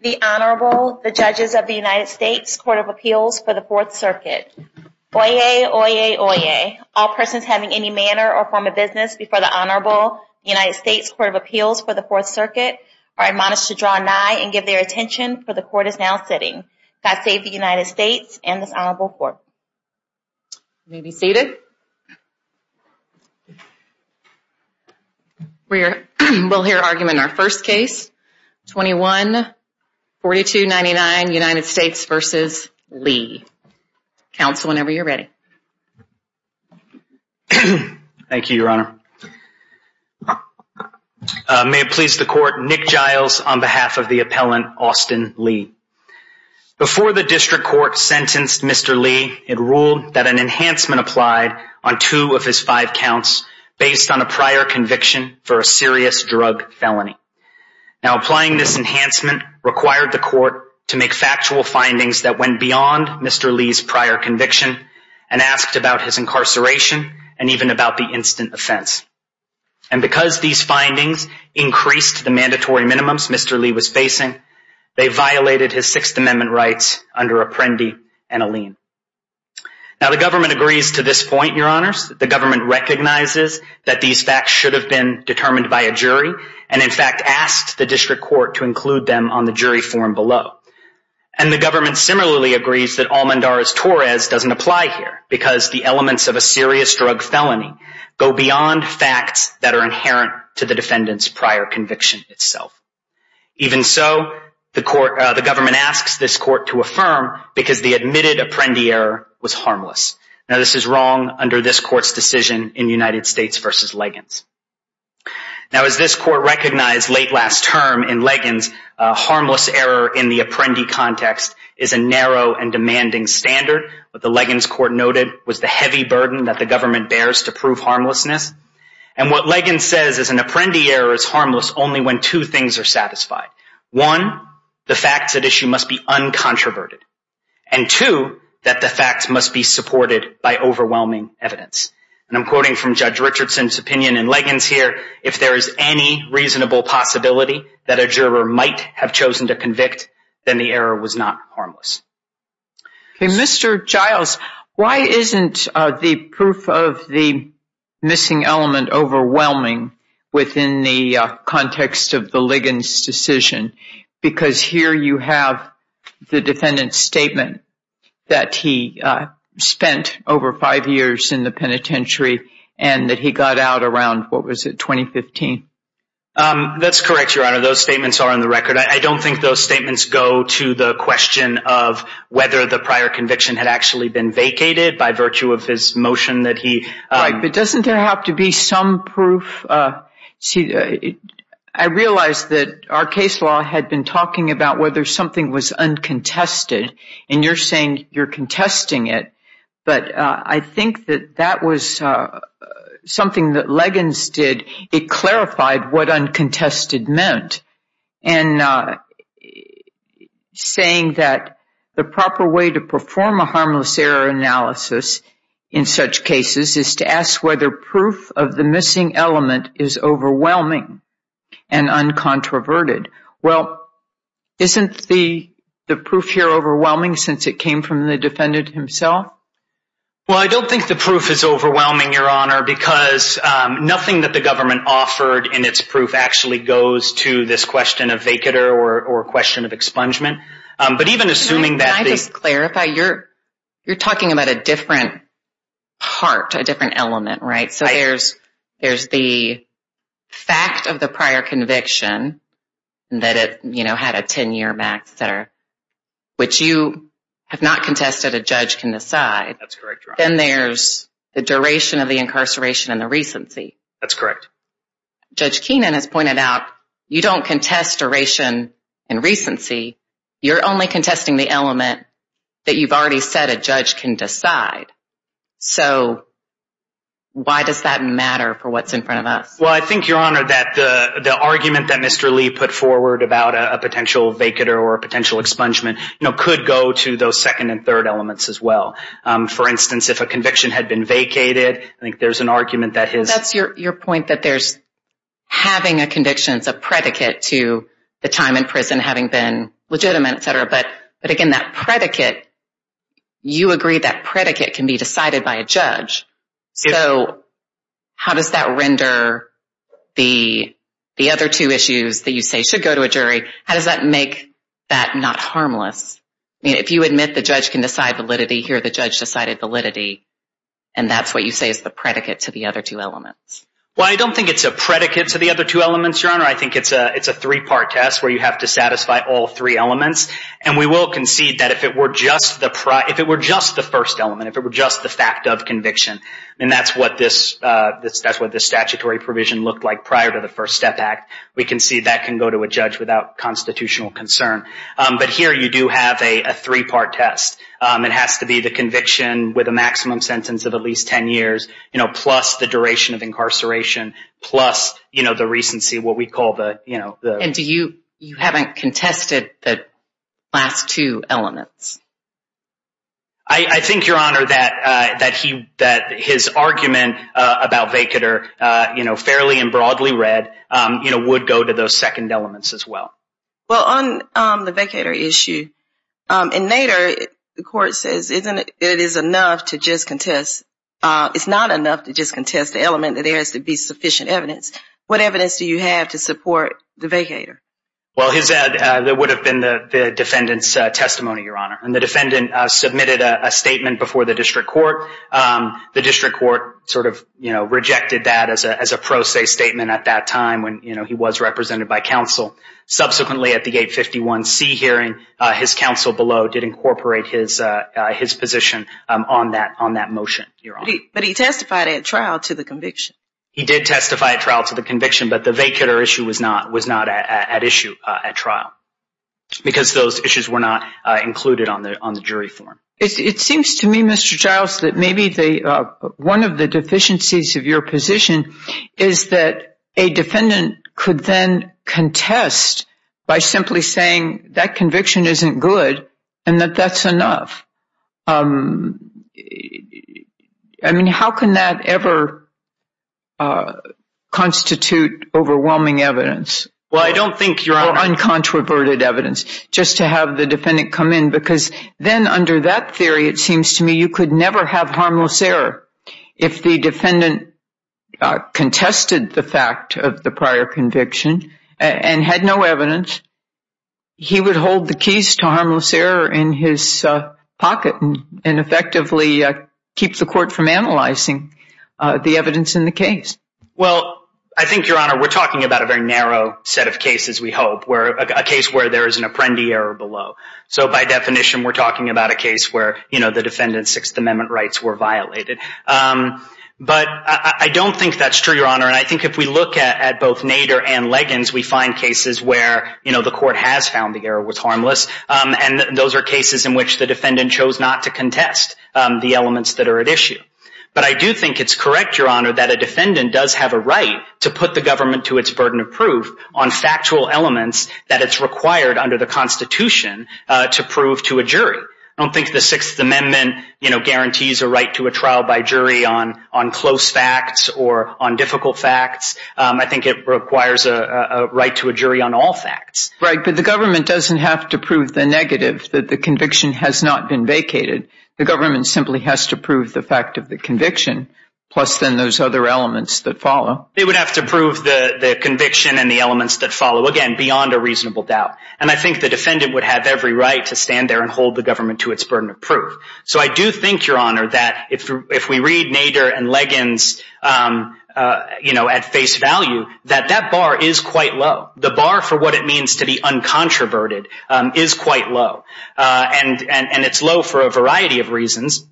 The Honorable, the Judges of the United States Court of Appeals for the Fourth Circuit. Oyez! Oyez! Oyez! All persons having any manner or form of business before the Honorable United States Court of Appeals for the Fourth Circuit are admonished to draw nigh and give their attention, for the Court is now sitting. God save the United States and this Honorable Court. You may be seated. We'll hear argument in our first case, 21-4299 United States v. Lee. Counsel, whenever you're ready. Thank you, Your Honor. May it please the Court, Nick Giles on behalf of the appellant, Austin Lee. Before the District Court sentenced Mr. Lee, it ruled that an enhancement applied on two of his five counts based on a prior conviction for a serious drug felony. Now, applying this enhancement required the Court to make factual findings that went beyond Mr. Lee's prior conviction and asked about his incarceration and even about the instant offense. And because these findings increased the mandatory minimums Mr. Lee was facing, they violated his Sixth Amendment rights under Apprendi and Alleen. Now, the government agrees to this point, Your Honors. The government recognizes that these facts should have been determined by a jury and, in fact, asked the District Court to include them on the jury form below. And the government similarly agrees that Almendarez-Torres doesn't apply here because the elements of a serious drug felony go beyond facts that are inherent to the defendant's prior conviction itself. Even so, the government asks this Court to affirm because the admitted Apprendi error was harmless. Now, this is wrong under this Court's decision in United States v. Liggins. Now, as this Court recognized late last term in Liggins, a harmless error in the Apprendi context is a narrow and demanding standard. What the Liggins Court noted was the heavy burden that the government bears to prove harmlessness. And what Liggins says is an Apprendi error is harmless only when two things are satisfied. One, the facts at issue must be uncontroverted. And two, that the facts must be supported by overwhelming evidence. And I'm quoting from Judge Richardson's opinion in Liggins here, if there is any reasonable possibility that a juror might have chosen to convict, then the error was not harmless. Okay, Mr. Giles, why isn't the proof of the missing element overwhelming within the context of the Liggins decision? Because here you have the defendant's statement that he spent over five years in the penitentiary and that he got out around, what was it, 2015? That's correct, Your Honor. Those statements are on the record. I don't think those statements go to the question of whether the prior conviction had actually been vacated by virtue of his motion that he- Right, but doesn't there have to be some proof? See, I realize that our case law had been talking about whether something was uncontested. And you're saying you're contesting it. But I think that that was something that Liggins did. It clarified what uncontested meant. And saying that the proper way to perform a harmless error analysis in such cases is to ask whether proof of the missing element is overwhelming and uncontroverted. Well, isn't the proof here overwhelming since it came from the defendant himself? Well, I don't think the proof is overwhelming, Your Honor, because nothing that the government offered in its proof actually goes to this question of vacater or question of expungement. But even assuming that- Can I just clarify? You're talking about a different part, a different element, right? So there's the fact of the prior conviction that it had a 10-year max, which you have not contested a judge can decide. That's correct, Your Honor. Then there's the duration of the incarceration and the recency. That's correct. Judge Keenan has pointed out you don't contest duration and recency. You're only contesting the element that you've already said a judge can decide. So why does that matter for what's in front of us? Well, I think, Your Honor, that the argument that Mr. Lee put forward about a potential vacater or a potential expungement could go to those second and third elements as well. For instance, if a conviction had been vacated, I think there's an argument that his- So how does that render the other two issues that you say should go to a jury? How does that make that not harmless? If you admit the judge can decide validity, here the judge decided validity, and that's what you say is the predicate to the other two elements. Well, I don't think it's a predicate to the other two elements, Your Honor. I think it's a three-part test where you have to satisfy all three elements. And we will concede that if it were just the first element, if it were just the fact of conviction, and that's what this statutory provision looked like prior to the First Step Act, we concede that can go to a judge without constitutional concern. But here you do have a three-part test. It has to be the conviction with a maximum sentence of at least 10 years, plus the duration of incarceration, plus the recency, what we call the- And do you-you haven't contested the last two elements? I think, Your Honor, that his argument about vacator, you know, fairly and broadly read, you know, would go to those second elements as well. Well, on the vacator issue, in Nader, the court says it is enough to just contest- Well, his-that would have been the defendant's testimony, Your Honor. And the defendant submitted a statement before the district court. The district court sort of, you know, rejected that as a pro se statement at that time when, you know, he was represented by counsel. Subsequently, at the 851C hearing, his counsel below did incorporate his position on that motion, Your Honor. But he testified at trial to the conviction. He did testify at trial to the conviction, but the vacator issue was not at issue at trial because those issues were not included on the jury form. It seems to me, Mr. Giles, that maybe one of the deficiencies of your position is that a defendant could then contest by simply saying that conviction isn't good and that that's enough. I mean, how can that ever constitute overwhelming evidence? Well, I don't think, Your Honor- Or uncontroverted evidence, just to have the defendant come in. Because then under that theory, it seems to me you could never have harmless error. If the defendant contested the fact of the prior conviction and had no evidence, he would hold the keys to harmless error in his pocket and effectively keep the court from analyzing the evidence in the case. Well, I think, Your Honor, we're talking about a very narrow set of cases, we hope, a case where there is an apprendee error below. So by definition, we're talking about a case where the defendant's Sixth Amendment rights were violated. But I don't think that's true, Your Honor. And I think if we look at both Nader and Leggins, we find cases where the court has found the error was harmless. And those are cases in which the defendant chose not to contest the elements that are at issue. But I do think it's correct, Your Honor, that a defendant does have a right to put the government to its burden of proof on factual elements that it's required under the Constitution to prove to a jury. I don't think the Sixth Amendment, you know, guarantees a right to a trial by jury on close facts or on difficult facts. I think it requires a right to a jury on all facts. Right, but the government doesn't have to prove the negative, that the conviction has not been vacated. The government simply has to prove the fact of the conviction, plus then those other elements that follow. They would have to prove the conviction and the elements that follow, again, beyond a reasonable doubt. And I think the defendant would have every right to stand there and hold the government to its burden of proof. So I do think, Your Honor, that if we read Nader and Leggins, you know, at face value, that that bar is quite low. The bar for what it means to be uncontroverted is quite low. And it's low for a variety of reasons.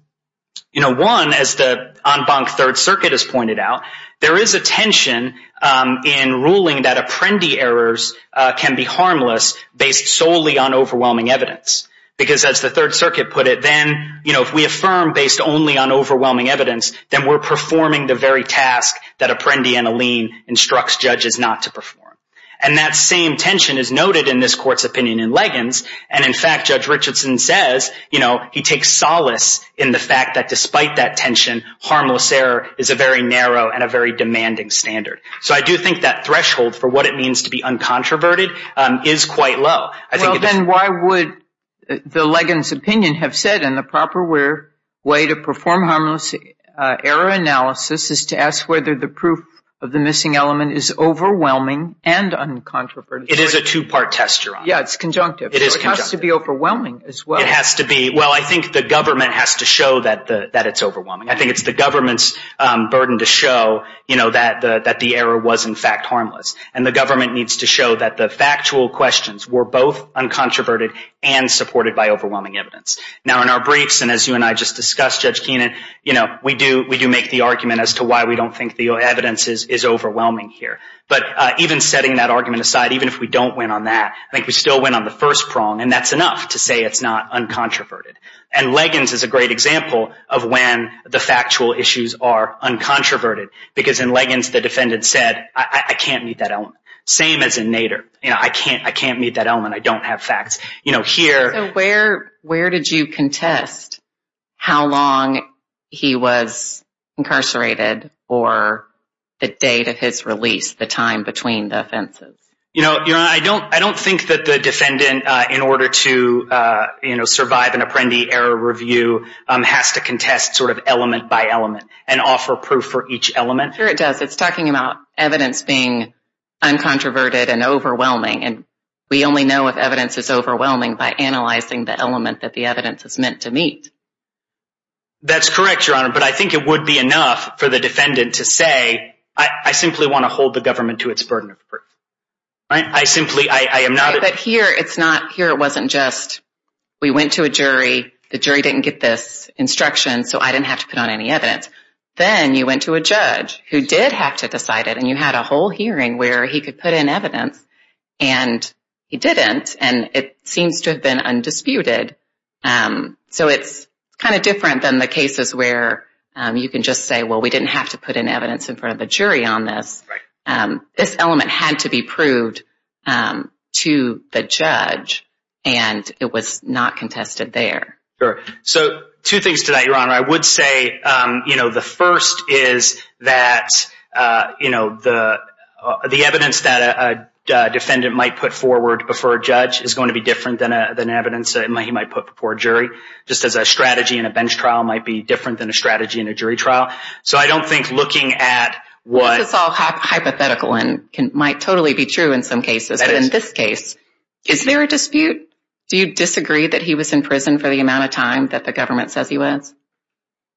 You know, one, as the en banc Third Circuit has pointed out, there is a tension in ruling that apprendee errors can be harmless based solely on overwhelming evidence. Because as the Third Circuit put it, then, you know, if we affirm based only on overwhelming evidence, then we're performing the very task that apprendee and a lien instructs judges not to perform. And that same tension is noted in this court's opinion in Leggins. And, in fact, Judge Richardson says, you know, he takes solace in the fact that despite that tension, harmless error is a very narrow and a very demanding standard. So I do think that threshold for what it means to be uncontroverted is quite low. Well, then why would the Leggins opinion have said in the proper way to perform harmless error analysis is to ask whether the proof of the missing element is overwhelming and uncontroverted? It is a two-part test, Your Honor. Yeah, it's conjunctive. It is conjunctive. So it has to be overwhelming as well. It has to be. Well, I think the government has to show that it's overwhelming. I think it's the government's burden to show, you know, that the error was, in fact, harmless. And the government needs to show that the factual questions were both uncontroverted and supported by overwhelming evidence. Now, in our briefs, and as you and I just discussed, Judge Keenan, you know, we do make the argument as to why we don't think the evidence is overwhelming here. But even setting that argument aside, even if we don't win on that, I think we still win on the first prong, and that's enough to say it's not uncontroverted. And Liggins is a great example of when the factual issues are uncontroverted, because in Liggins, the defendant said, I can't meet that element. Same as in Nader. You know, I can't meet that element. I don't have facts. You know, here. So where did you contest how long he was incarcerated or the date of his release, the time between the offenses? You know, Your Honor, I don't think that the defendant, in order to, you know, survive an Apprendi error review, has to contest sort of element by element and offer proof for each element. Sure it does. It's talking about evidence being uncontroverted and overwhelming. And we only know if evidence is overwhelming by analyzing the element that the evidence is meant to meet. That's correct, Your Honor. But I think it would be enough for the defendant to say, I simply want to hold the government to its burden of proof. I simply, I am not. But here, it's not here. It wasn't just we went to a jury. The jury didn't get this instruction, so I didn't have to put on any evidence. Then you went to a judge who did have to decide it, and you had a whole hearing where he could put in evidence. And he didn't. And it seems to have been undisputed. So it's kind of different than the cases where you can just say, well, we didn't have to put in evidence in front of the jury on this. This element had to be proved to the judge, and it was not contested there. Sure. So two things to that, Your Honor. I would say, you know, the first is that, you know, the evidence that a defendant might put forward before a judge is going to be different than evidence he might put before a jury. Just as a strategy in a bench trial might be different than a strategy in a jury trial. So I don't think looking at what. This is all hypothetical and might totally be true in some cases. But in this case, is there a dispute? Do you disagree that he was in prison for the amount of time that the government says he was?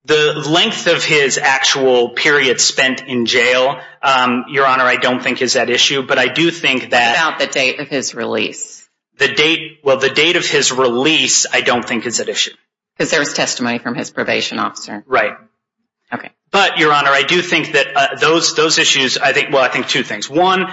The length of his actual period spent in jail, Your Honor, I don't think is at issue. But I do think that. What about the date of his release? The date. Well, the date of his release, I don't think is at issue. Because there was testimony from his probation officer. Right. OK. But, Your Honor, I do think that those issues, I think, well, I think two things. One,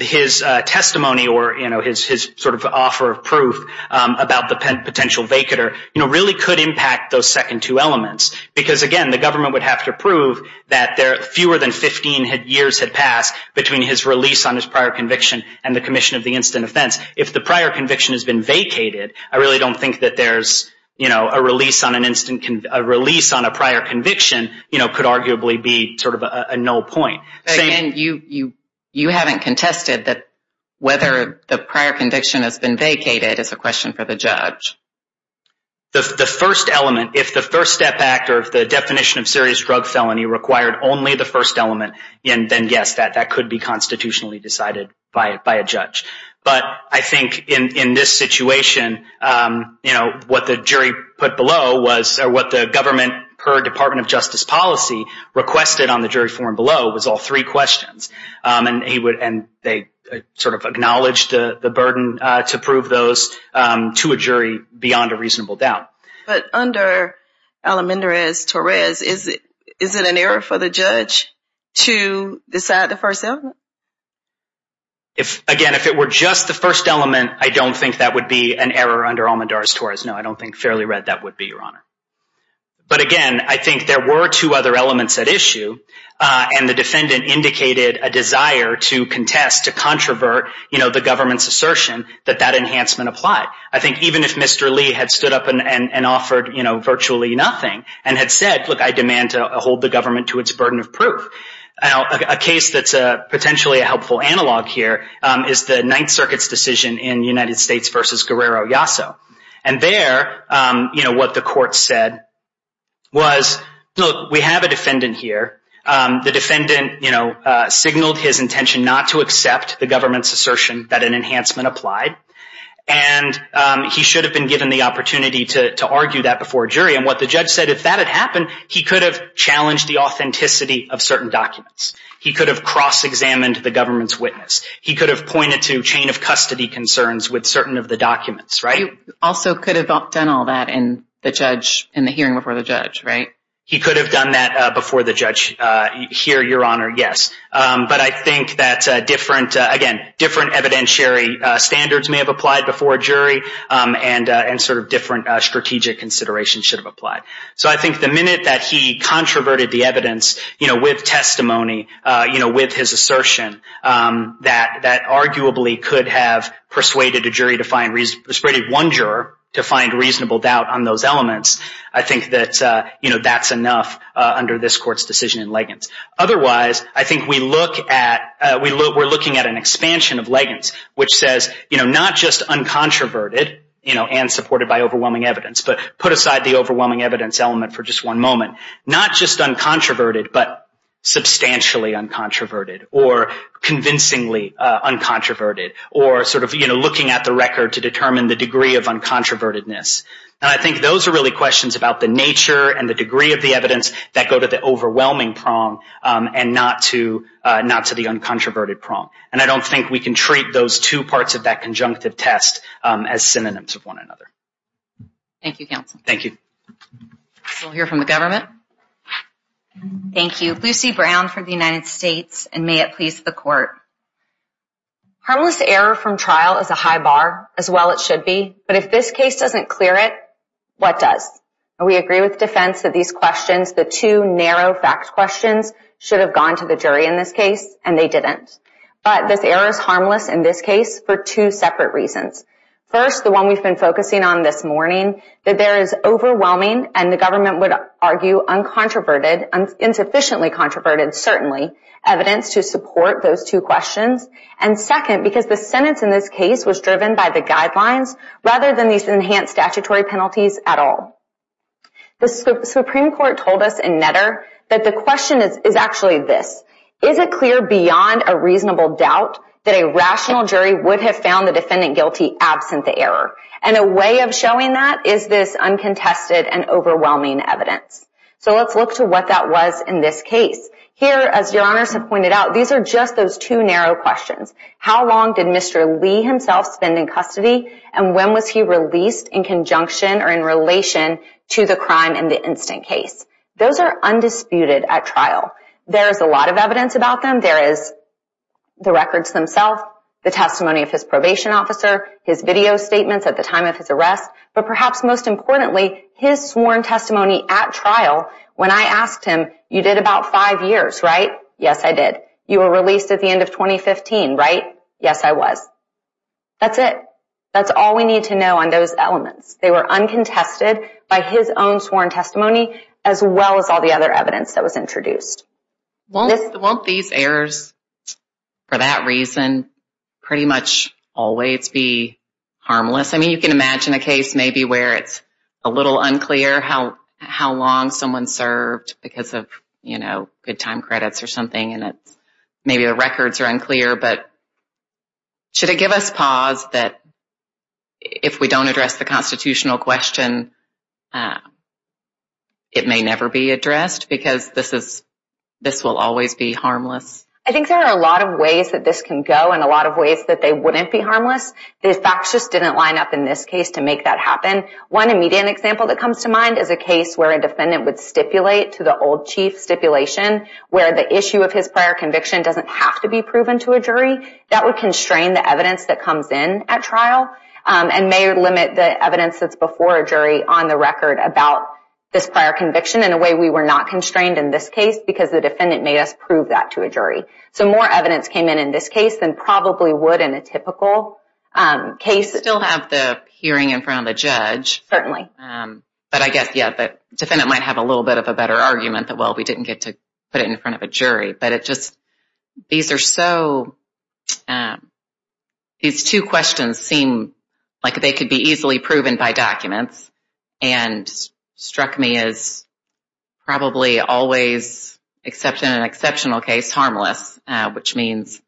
his testimony or, you know, his sort of offer of proof about the potential vacater, you know, really could impact those second two elements. Because, again, the government would have to prove that fewer than 15 years had passed between his release on his prior conviction and the commission of the instant offense. If the prior conviction has been vacated, I really don't think that there's, you know, a release on an instant, a release on a prior conviction, you know, could arguably be sort of a null point. But, again, you haven't contested that whether the prior conviction has been vacated is a question for the judge. The first element, if the First Step Act or the definition of serious drug felony required only the first element, then, yes, that could be constitutionally decided by a judge. But I think in this situation, you know, what the jury put below was or what the government per Department of Justice policy requested on the jury forum below was all three questions. And they sort of acknowledged the burden to prove those to a jury beyond a reasonable doubt. But under Alamendrez-Torres, is it an error for the judge to decide the first element? Again, if it were just the first element, I don't think that would be an error under Alamendrez-Torres. No, I don't think fairly read that would be, Your Honor. But, again, I think there were two other elements at issue, and the defendant indicated a desire to contest, to controvert, you know, the government's assertion that that enhancement applied. I think even if Mr. Lee had stood up and offered, you know, virtually nothing and had said, look, I demand to hold the government to its burden of proof. A case that's potentially a helpful analog here is the Ninth Circuit's decision in the United States versus Guerrero-Yasso. And there, you know, what the court said was, look, we have a defendant here. The defendant, you know, signaled his intention not to accept the government's assertion that an enhancement applied. And he should have been given the opportunity to argue that before a jury. And what the judge said, if that had happened, he could have challenged the authenticity of certain documents. He could have cross-examined the government's witness. He could have pointed to chain of custody concerns with certain of the documents, right? He also could have done all that in the judge, in the hearing before the judge, right? He could have done that before the judge. Here, Your Honor, yes. But I think that different, again, different evidentiary standards may have applied before a jury. And sort of different strategic considerations should have applied. So I think the minute that he controverted the evidence, you know, with testimony, you know, with his assertion, that arguably could have persuaded a jury to find, persuaded one juror to find reasonable doubt on those elements, I think that, you know, that's enough under this court's decision in Liggins. Otherwise, I think we look at, we're looking at an expansion of Liggins, which says, you know, not just uncontroverted, you know, and supported by overwhelming evidence, but put aside the overwhelming evidence element for just one moment. Not just uncontroverted, but substantially uncontroverted, or convincingly uncontroverted, or sort of, you know, looking at the record to determine the degree of uncontrovertedness. And I think those are really questions about the nature and the degree of the evidence that go to the overwhelming prong and not to the uncontroverted prong. And I don't think we can treat those two parts of that conjunctive test as synonyms of one another. Thank you, counsel. Thank you. We'll hear from the government. Thank you. Lucy Brown from the United States, and may it please the court. Harmless error from trial is a high bar, as well it should be. But if this case doesn't clear it, what does? We agree with defense that these questions, the two narrow fact questions, should have gone to the jury in this case, and they didn't. But this error is harmless in this case for two separate reasons. First, the one we've been focusing on this morning, that there is overwhelming and the government would argue uncontroverted, insufficiently controverted, certainly, evidence to support those two questions. And second, because the sentence in this case was driven by the guidelines rather than these enhanced statutory penalties at all. The Supreme Court told us in Netter that the question is actually this. Is it clear beyond a reasonable doubt that a rational jury would have found the defendant guilty absent the error? And a way of showing that is this uncontested and overwhelming evidence. So let's look to what that was in this case. Here, as your honors have pointed out, these are just those two narrow questions. How long did Mr. Lee himself spend in custody? And when was he released in conjunction or in relation to the crime in the instant case? Those are undisputed at trial. There is a lot of evidence about them. There is the records themselves, the testimony of his probation officer, his video statements at the time of his arrest, but perhaps most importantly, his sworn testimony at trial when I asked him, you did about five years, right? Yes, I did. You were released at the end of 2015, right? Yes, I was. That's it. That's all we need to know on those elements. They were uncontested by his own sworn testimony as well as all the other evidence that was introduced. Won't these errors, for that reason, pretty much always be harmless? I mean, you can imagine a case maybe where it's a little unclear how long someone served because of, you know, good time credits or something, and maybe the records are unclear. But should it give us pause that if we don't address the constitutional question, it may never be addressed because this will always be harmless? I think there are a lot of ways that this can go The facts just didn't line up in this case to make that happen. One immediate example that comes to mind is a case where a defendant would stipulate to the old chief stipulation where the issue of his prior conviction doesn't have to be proven to a jury. That would constrain the evidence that comes in at trial and may limit the evidence that's before a jury on the record about this prior conviction in a way we were not constrained So more evidence came in in this case than probably would in a typical case. Still have the hearing in front of the judge. Certainly. But I guess, yeah, the defendant might have a little bit of a better argument that, well, we didn't get to put it in front of a jury. But it just, these are so, these two questions seem like they could be easily proven by documents and struck me as probably always, except in an exceptional case, harmless. Which means,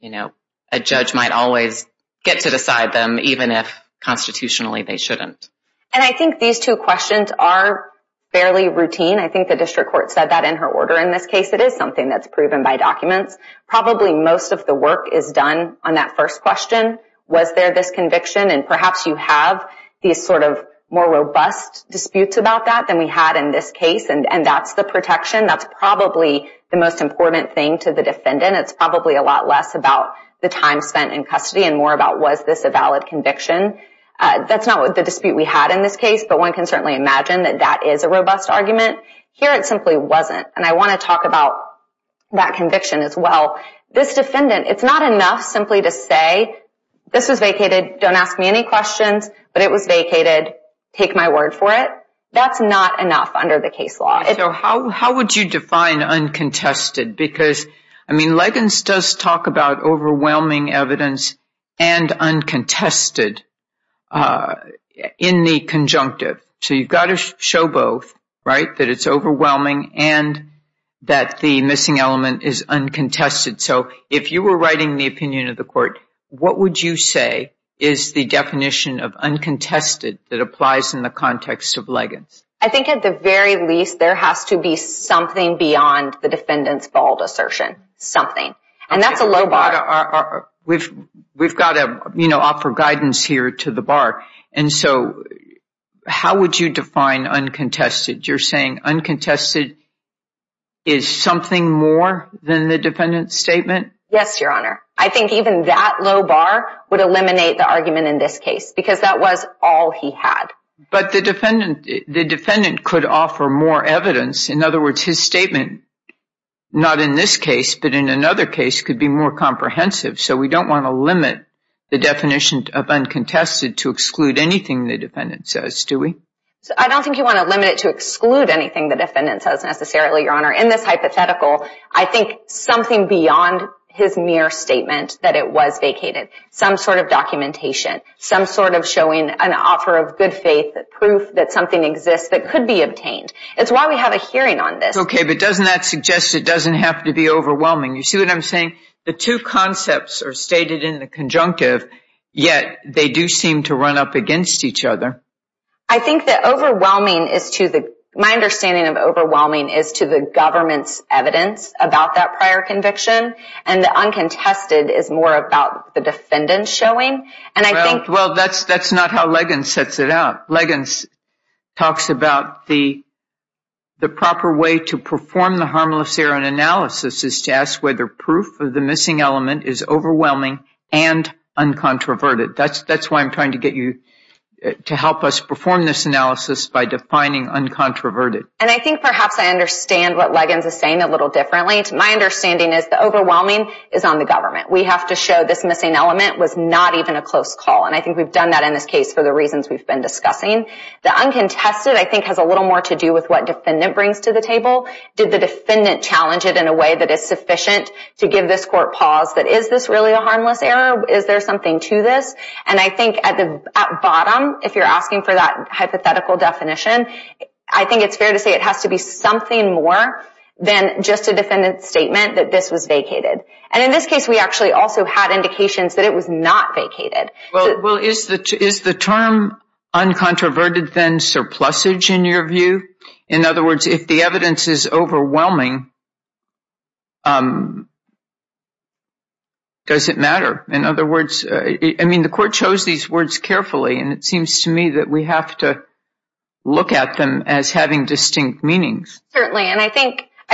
you know, a judge might always get to decide them even if constitutionally they shouldn't. And I think these two questions are fairly routine. I think the district court said that in her order in this case. It is something that's proven by documents. Probably most of the work is done on that first question. Was there this conviction? And perhaps you have these sort of more robust disputes about that than we had in this case. And that's the protection. That's probably the most important thing to the defendant. It's probably a lot less about the time spent in custody and more about was this a valid conviction. That's not the dispute we had in this case. But one can certainly imagine that that is a robust argument. Here it simply wasn't. And I want to talk about that conviction as well. This defendant, it's not enough simply to say, this was vacated, don't ask me any questions, but it was vacated, take my word for it. That's not enough under the case law. So how would you define uncontested? Because, I mean, Leggins does talk about overwhelming evidence and uncontested in the conjunctive. So you've got to show both, right, that it's overwhelming and that the missing element is uncontested. So if you were writing the opinion of the court, what would you say is the definition of uncontested that applies in the context of Leggins? I think at the very least there has to be something beyond the defendant's bald assertion, something. And that's a low bar. We've got to offer guidance here to the bar. And so how would you define uncontested? You're saying uncontested is something more than the defendant's statement? Yes, Your Honor. I think even that low bar would eliminate the argument in this case because that was all he had. But the defendant could offer more evidence. In other words, his statement, not in this case but in another case, could be more comprehensive. So we don't want to limit the definition of uncontested to exclude anything the defendant says, do we? I don't think you want to limit it to exclude anything the defendant says necessarily, Your Honor. In this hypothetical, I think something beyond his mere statement that it was vacated, some sort of documentation, some sort of showing an offer of good faith, proof that something exists that could be obtained. It's why we have a hearing on this. Okay, but doesn't that suggest it doesn't have to be overwhelming? You see what I'm saying? The two concepts are stated in the conjunctive, yet they do seem to run up against each other. I think that overwhelming is to the – my understanding of overwhelming is to the government's evidence about that prior conviction, and the uncontested is more about the defendant showing. And I think – Well, that's not how Leggins sets it out. Leggins talks about the proper way to perform the harmless error in analysis is to ask whether proof of the missing element is overwhelming and uncontroverted. That's why I'm trying to get you to help us perform this analysis by defining uncontroverted. And I think perhaps I understand what Leggins is saying a little differently. My understanding is the overwhelming is on the government. We have to show this missing element was not even a close call, and I think we've done that in this case for the reasons we've been discussing. The uncontested, I think, has a little more to do with what defendant brings to the table. Did the defendant challenge it in a way that is sufficient to give this court pause, that is this really a harmless error? Is there something to this? And I think at the bottom, if you're asking for that hypothetical definition, I think it's fair to say it has to be something more than just a defendant's statement that this was vacated. And in this case, we actually also had indications that it was not vacated. Well, is the term uncontroverted then surplusage in your view? In other words, if the evidence is overwhelming, does it matter? In other words, I mean, the court chose these words carefully, and it seems to me that we have to look at them as having distinct meanings. Certainly, and I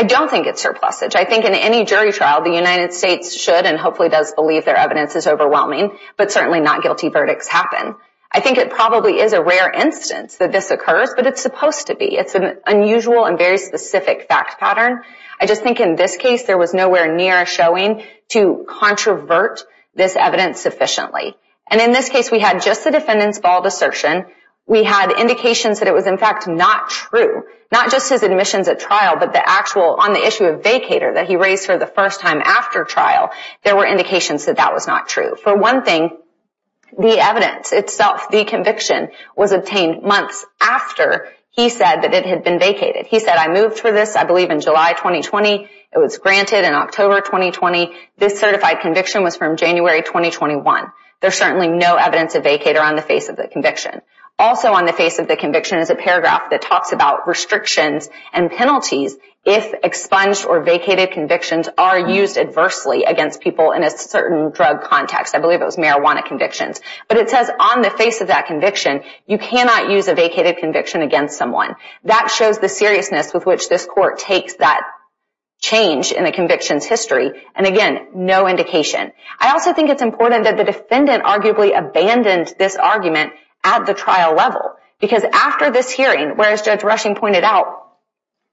don't think it's surplusage. I think in any jury trial, the United States should and hopefully does believe their evidence is overwhelming, but certainly not guilty verdicts happen. I think it probably is a rare instance that this occurs, but it's supposed to be. It's an unusual and very specific fact pattern. I just think in this case, there was nowhere near a showing to controvert this evidence sufficiently. And in this case, we had just the defendant's bald assertion. We had indications that it was in fact not true, not just his admissions at trial, but the actual on the issue of vacator that he raised for the first time after trial, there were indications that that was not true. For one thing, the evidence itself, the conviction, was obtained months after he said that it had been vacated. He said, I moved for this, I believe, in July 2020. It was granted in October 2020. This certified conviction was from January 2021. There's certainly no evidence of vacator on the face of the conviction. Also on the face of the conviction is a paragraph that talks about restrictions and penalties if expunged or vacated convictions are used adversely against people in a certain drug context. I believe it was marijuana convictions. But it says on the face of that conviction, you cannot use a vacated conviction against someone. That shows the seriousness with which this court takes that change in the conviction's history. And again, no indication. I also think it's important that the defendant arguably abandoned this argument at the trial level because after this hearing, whereas Judge Rushing pointed out,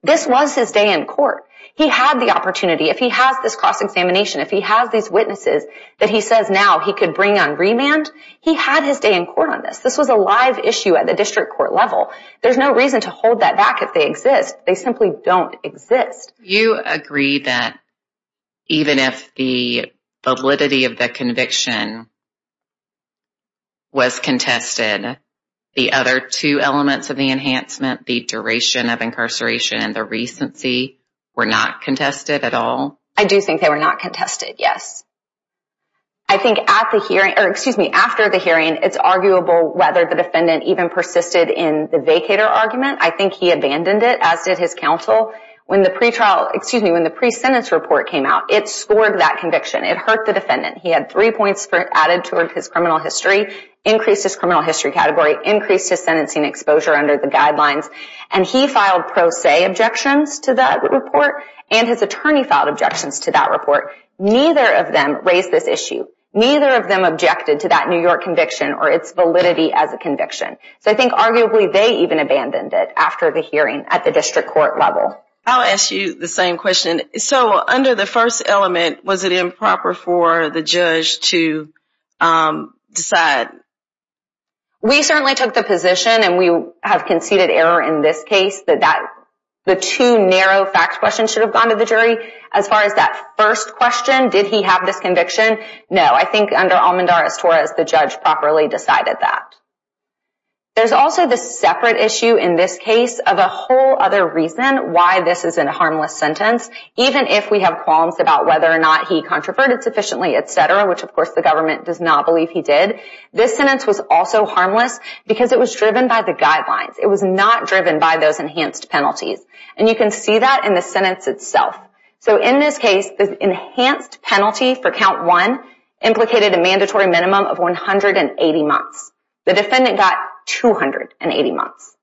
this was his day in court. He had the opportunity. If he has this cross-examination, if he has these witnesses that he says now he could bring on remand, he had his day in court on this. This was a live issue at the district court level. There's no reason to hold that back if they exist. They simply don't exist. Do you agree that even if the validity of the conviction was contested, the other two elements of the enhancement, the duration of incarceration and the recency, were not contested at all? I do think they were not contested, yes. I think after the hearing, it's arguable whether the defendant even persisted in the vacator argument. I think he abandoned it, as did his counsel. When the pre-sentence report came out, it scored that conviction. It hurt the defendant. He had three points added to his criminal history, increased his criminal history category, increased his sentencing exposure under the guidelines, and he filed pro se objections to that report and his attorney filed objections to that report. Neither of them raised this issue. Neither of them objected to that New York conviction or its validity as a conviction. So I think arguably they even abandoned it after the hearing at the district court level. I'll ask you the same question. So under the first element, was it improper for the judge to decide? We certainly took the position, and we have conceded error in this case, that the two narrow fact questions should have gone to the jury. As far as that first question, did he have this conviction? No. I think under Almandar-Estorra, the judge properly decided that. There's also this separate issue in this case of a whole other reason why this isn't a harmless sentence. Even if we have qualms about whether or not he controverted sufficiently, et cetera, which of course the government does not believe he did, this sentence was also harmless because it was driven by the guidelines. It was not driven by those enhanced penalties. You can see that in the sentence itself. In this case, the enhanced penalty for count one implicated a mandatory minimum of 180 months. The defendant got 280 months.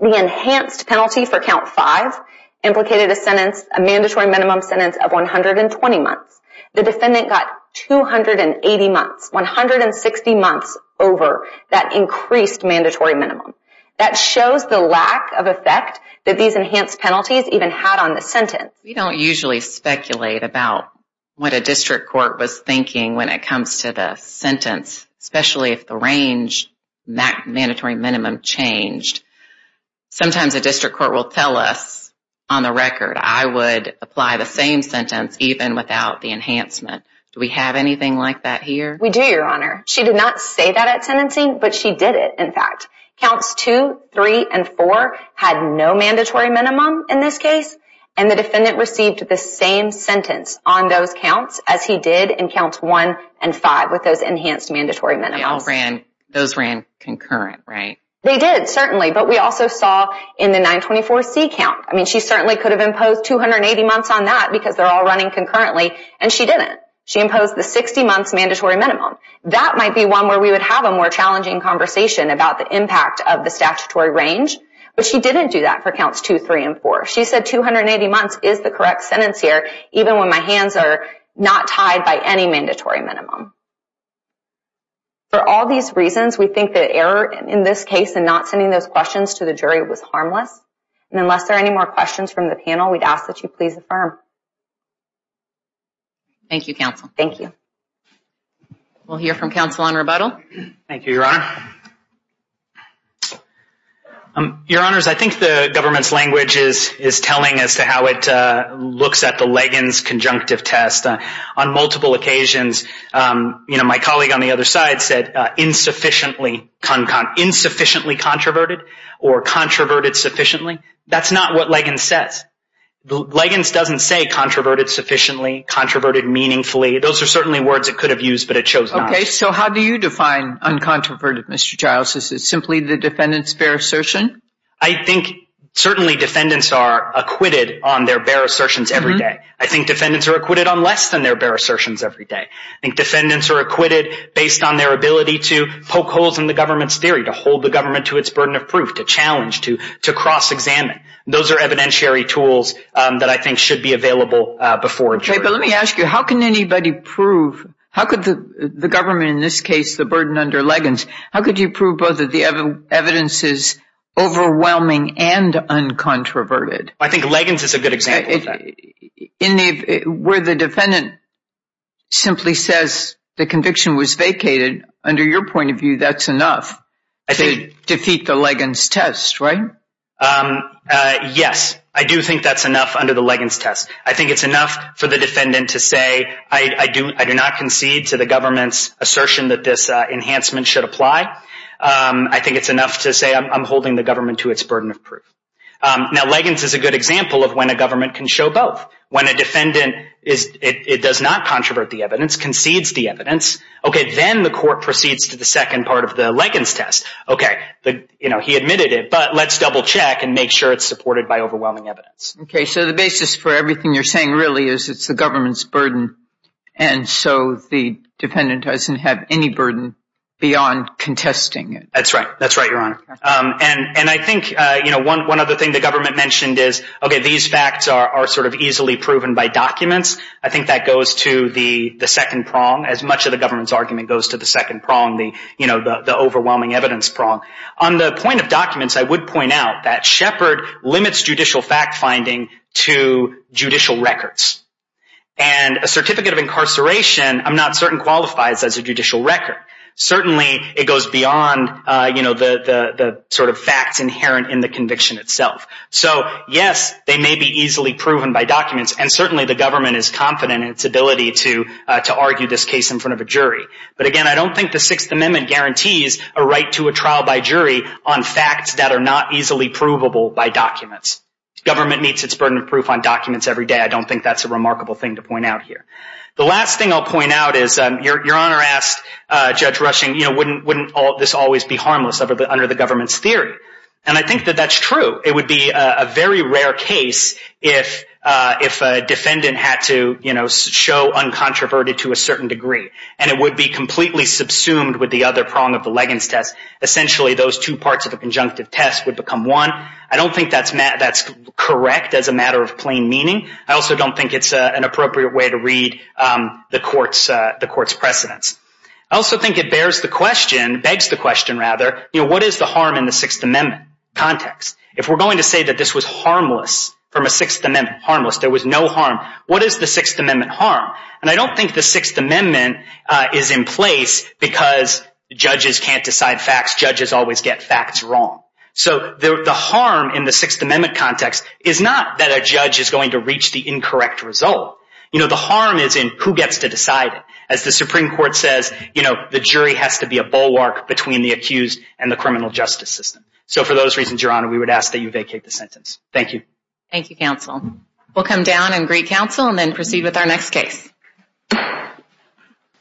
The enhanced penalty for count five implicated a mandatory minimum sentence of 120 months. The defendant got 280 months, 160 months over that increased mandatory minimum. That shows the lack of effect that these enhanced penalties even had on the sentence. We don't usually speculate about what a district court was thinking when it comes to the sentence, especially if the range, that mandatory minimum changed. Sometimes a district court will tell us on the record, I would apply the same sentence even without the enhancement. Do we have anything like that here? We do, Your Honor. She did not say that at sentencing, but she did it, in fact. Counts two, three, and four had no mandatory minimum in this case, and the defendant received the same sentence on those counts as he did in counts one and five with those enhanced mandatory minimums. Those ran concurrent, right? They did, certainly, but we also saw in the 924C count. She certainly could have imposed 280 months on that because they're all running concurrently, and she didn't. She imposed the 60 months mandatory minimum. That might be one where we would have a more challenging conversation about the impact of the statutory range, but she didn't do that for counts two, three, and four. She said 280 months is the correct sentence here, even when my hands are not tied by any mandatory minimum. For all these reasons, we think the error in this case in not sending those questions to the jury was harmless, and unless there are any more questions from the panel, we'd ask that you please affirm. Thank you, Counsel. Thank you. We'll hear from Counsel on rebuttal. Thank you, Your Honor. Your Honors, I think the government's language is telling as to how it looks at the Liggins conjunctive test. On multiple occasions, my colleague on the other side said insufficiently controverted or controverted sufficiently. That's not what Liggins says. Liggins doesn't say controverted sufficiently, controverted meaningfully. Those are certainly words it could have used, but it chose not to. Okay, so how do you define uncontroverted, Mr. Giles? Is it simply the defendant's bare assertion? I think certainly defendants are acquitted on their bare assertions every day. I think defendants are acquitted on less than their bare assertions every day. I think defendants are acquitted based on their ability to poke holes in the government's theory, to hold the government to its burden of proof, to challenge, to cross-examine. Those are evidentiary tools that I think should be available before a jury. Okay, but let me ask you, how can anybody prove, how could the government in this case, the burden under Liggins, how could you prove both that the evidence is overwhelming and uncontroverted? I think Liggins is a good example of that. Where the defendant simply says the conviction was vacated, under your point of view, that's enough to defeat the Liggins test, right? Yes, I do think that's enough under the Liggins test. I think it's enough for the defendant to say, I do not concede to the government's assertion that this enhancement should apply. I think it's enough to say I'm holding the government to its burden of proof. Now, Liggins is a good example of when a government can show both. When a defendant does not controvert the evidence, concedes the evidence, okay, then the court proceeds to the second part of the Liggins test. Okay, he admitted it, but let's double check and make sure it's supported by overwhelming evidence. Okay, so the basis for everything you're saying really is it's the government's burden, and so the defendant doesn't have any burden beyond contesting it. That's right. That's right, Your Honor. And I think one other thing the government mentioned is, okay, these facts are sort of easily proven by documents. I think that goes to the second prong. As much of the government's argument goes to the second prong, the overwhelming evidence prong, on the point of documents, I would point out that Shepard limits judicial fact-finding to judicial records. And a certificate of incarceration I'm not certain qualifies as a judicial record. Certainly it goes beyond the sort of facts inherent in the conviction itself. So, yes, they may be easily proven by documents, and certainly the government is confident in its ability to argue this case in front of a jury. But, again, I don't think the Sixth Amendment guarantees a right to a trial by jury on facts that are not easily provable by documents. Government meets its burden of proof on documents every day. I don't think that's a remarkable thing to point out here. The last thing I'll point out is Your Honor asked Judge Rushing, wouldn't this always be harmless under the government's theory? And I think that that's true. It would be a very rare case if a defendant had to show uncontroverted to a certain degree. And it would be completely subsumed with the other prong of the Leggins test. Essentially those two parts of the conjunctive test would become one. I don't think that's correct as a matter of plain meaning. I also don't think it's an appropriate way to read the court's precedence. I also think it bears the question, begs the question rather, what is the harm in the Sixth Amendment context? If we're going to say that this was harmless from a Sixth Amendment, harmless, there was no harm, what is the Sixth Amendment harm? And I don't think the Sixth Amendment is in place because judges can't decide facts, judges always get facts wrong. So the harm in the Sixth Amendment context is not that a judge is going to reach the incorrect result. The harm is in who gets to decide it. As the Supreme Court says, the jury has to be a bulwark between the accused and the criminal justice system. So for those reasons, Your Honor, we would ask that you vacate the sentence. Thank you. Thank you, counsel. We'll come down and greet counsel and then proceed with our next case.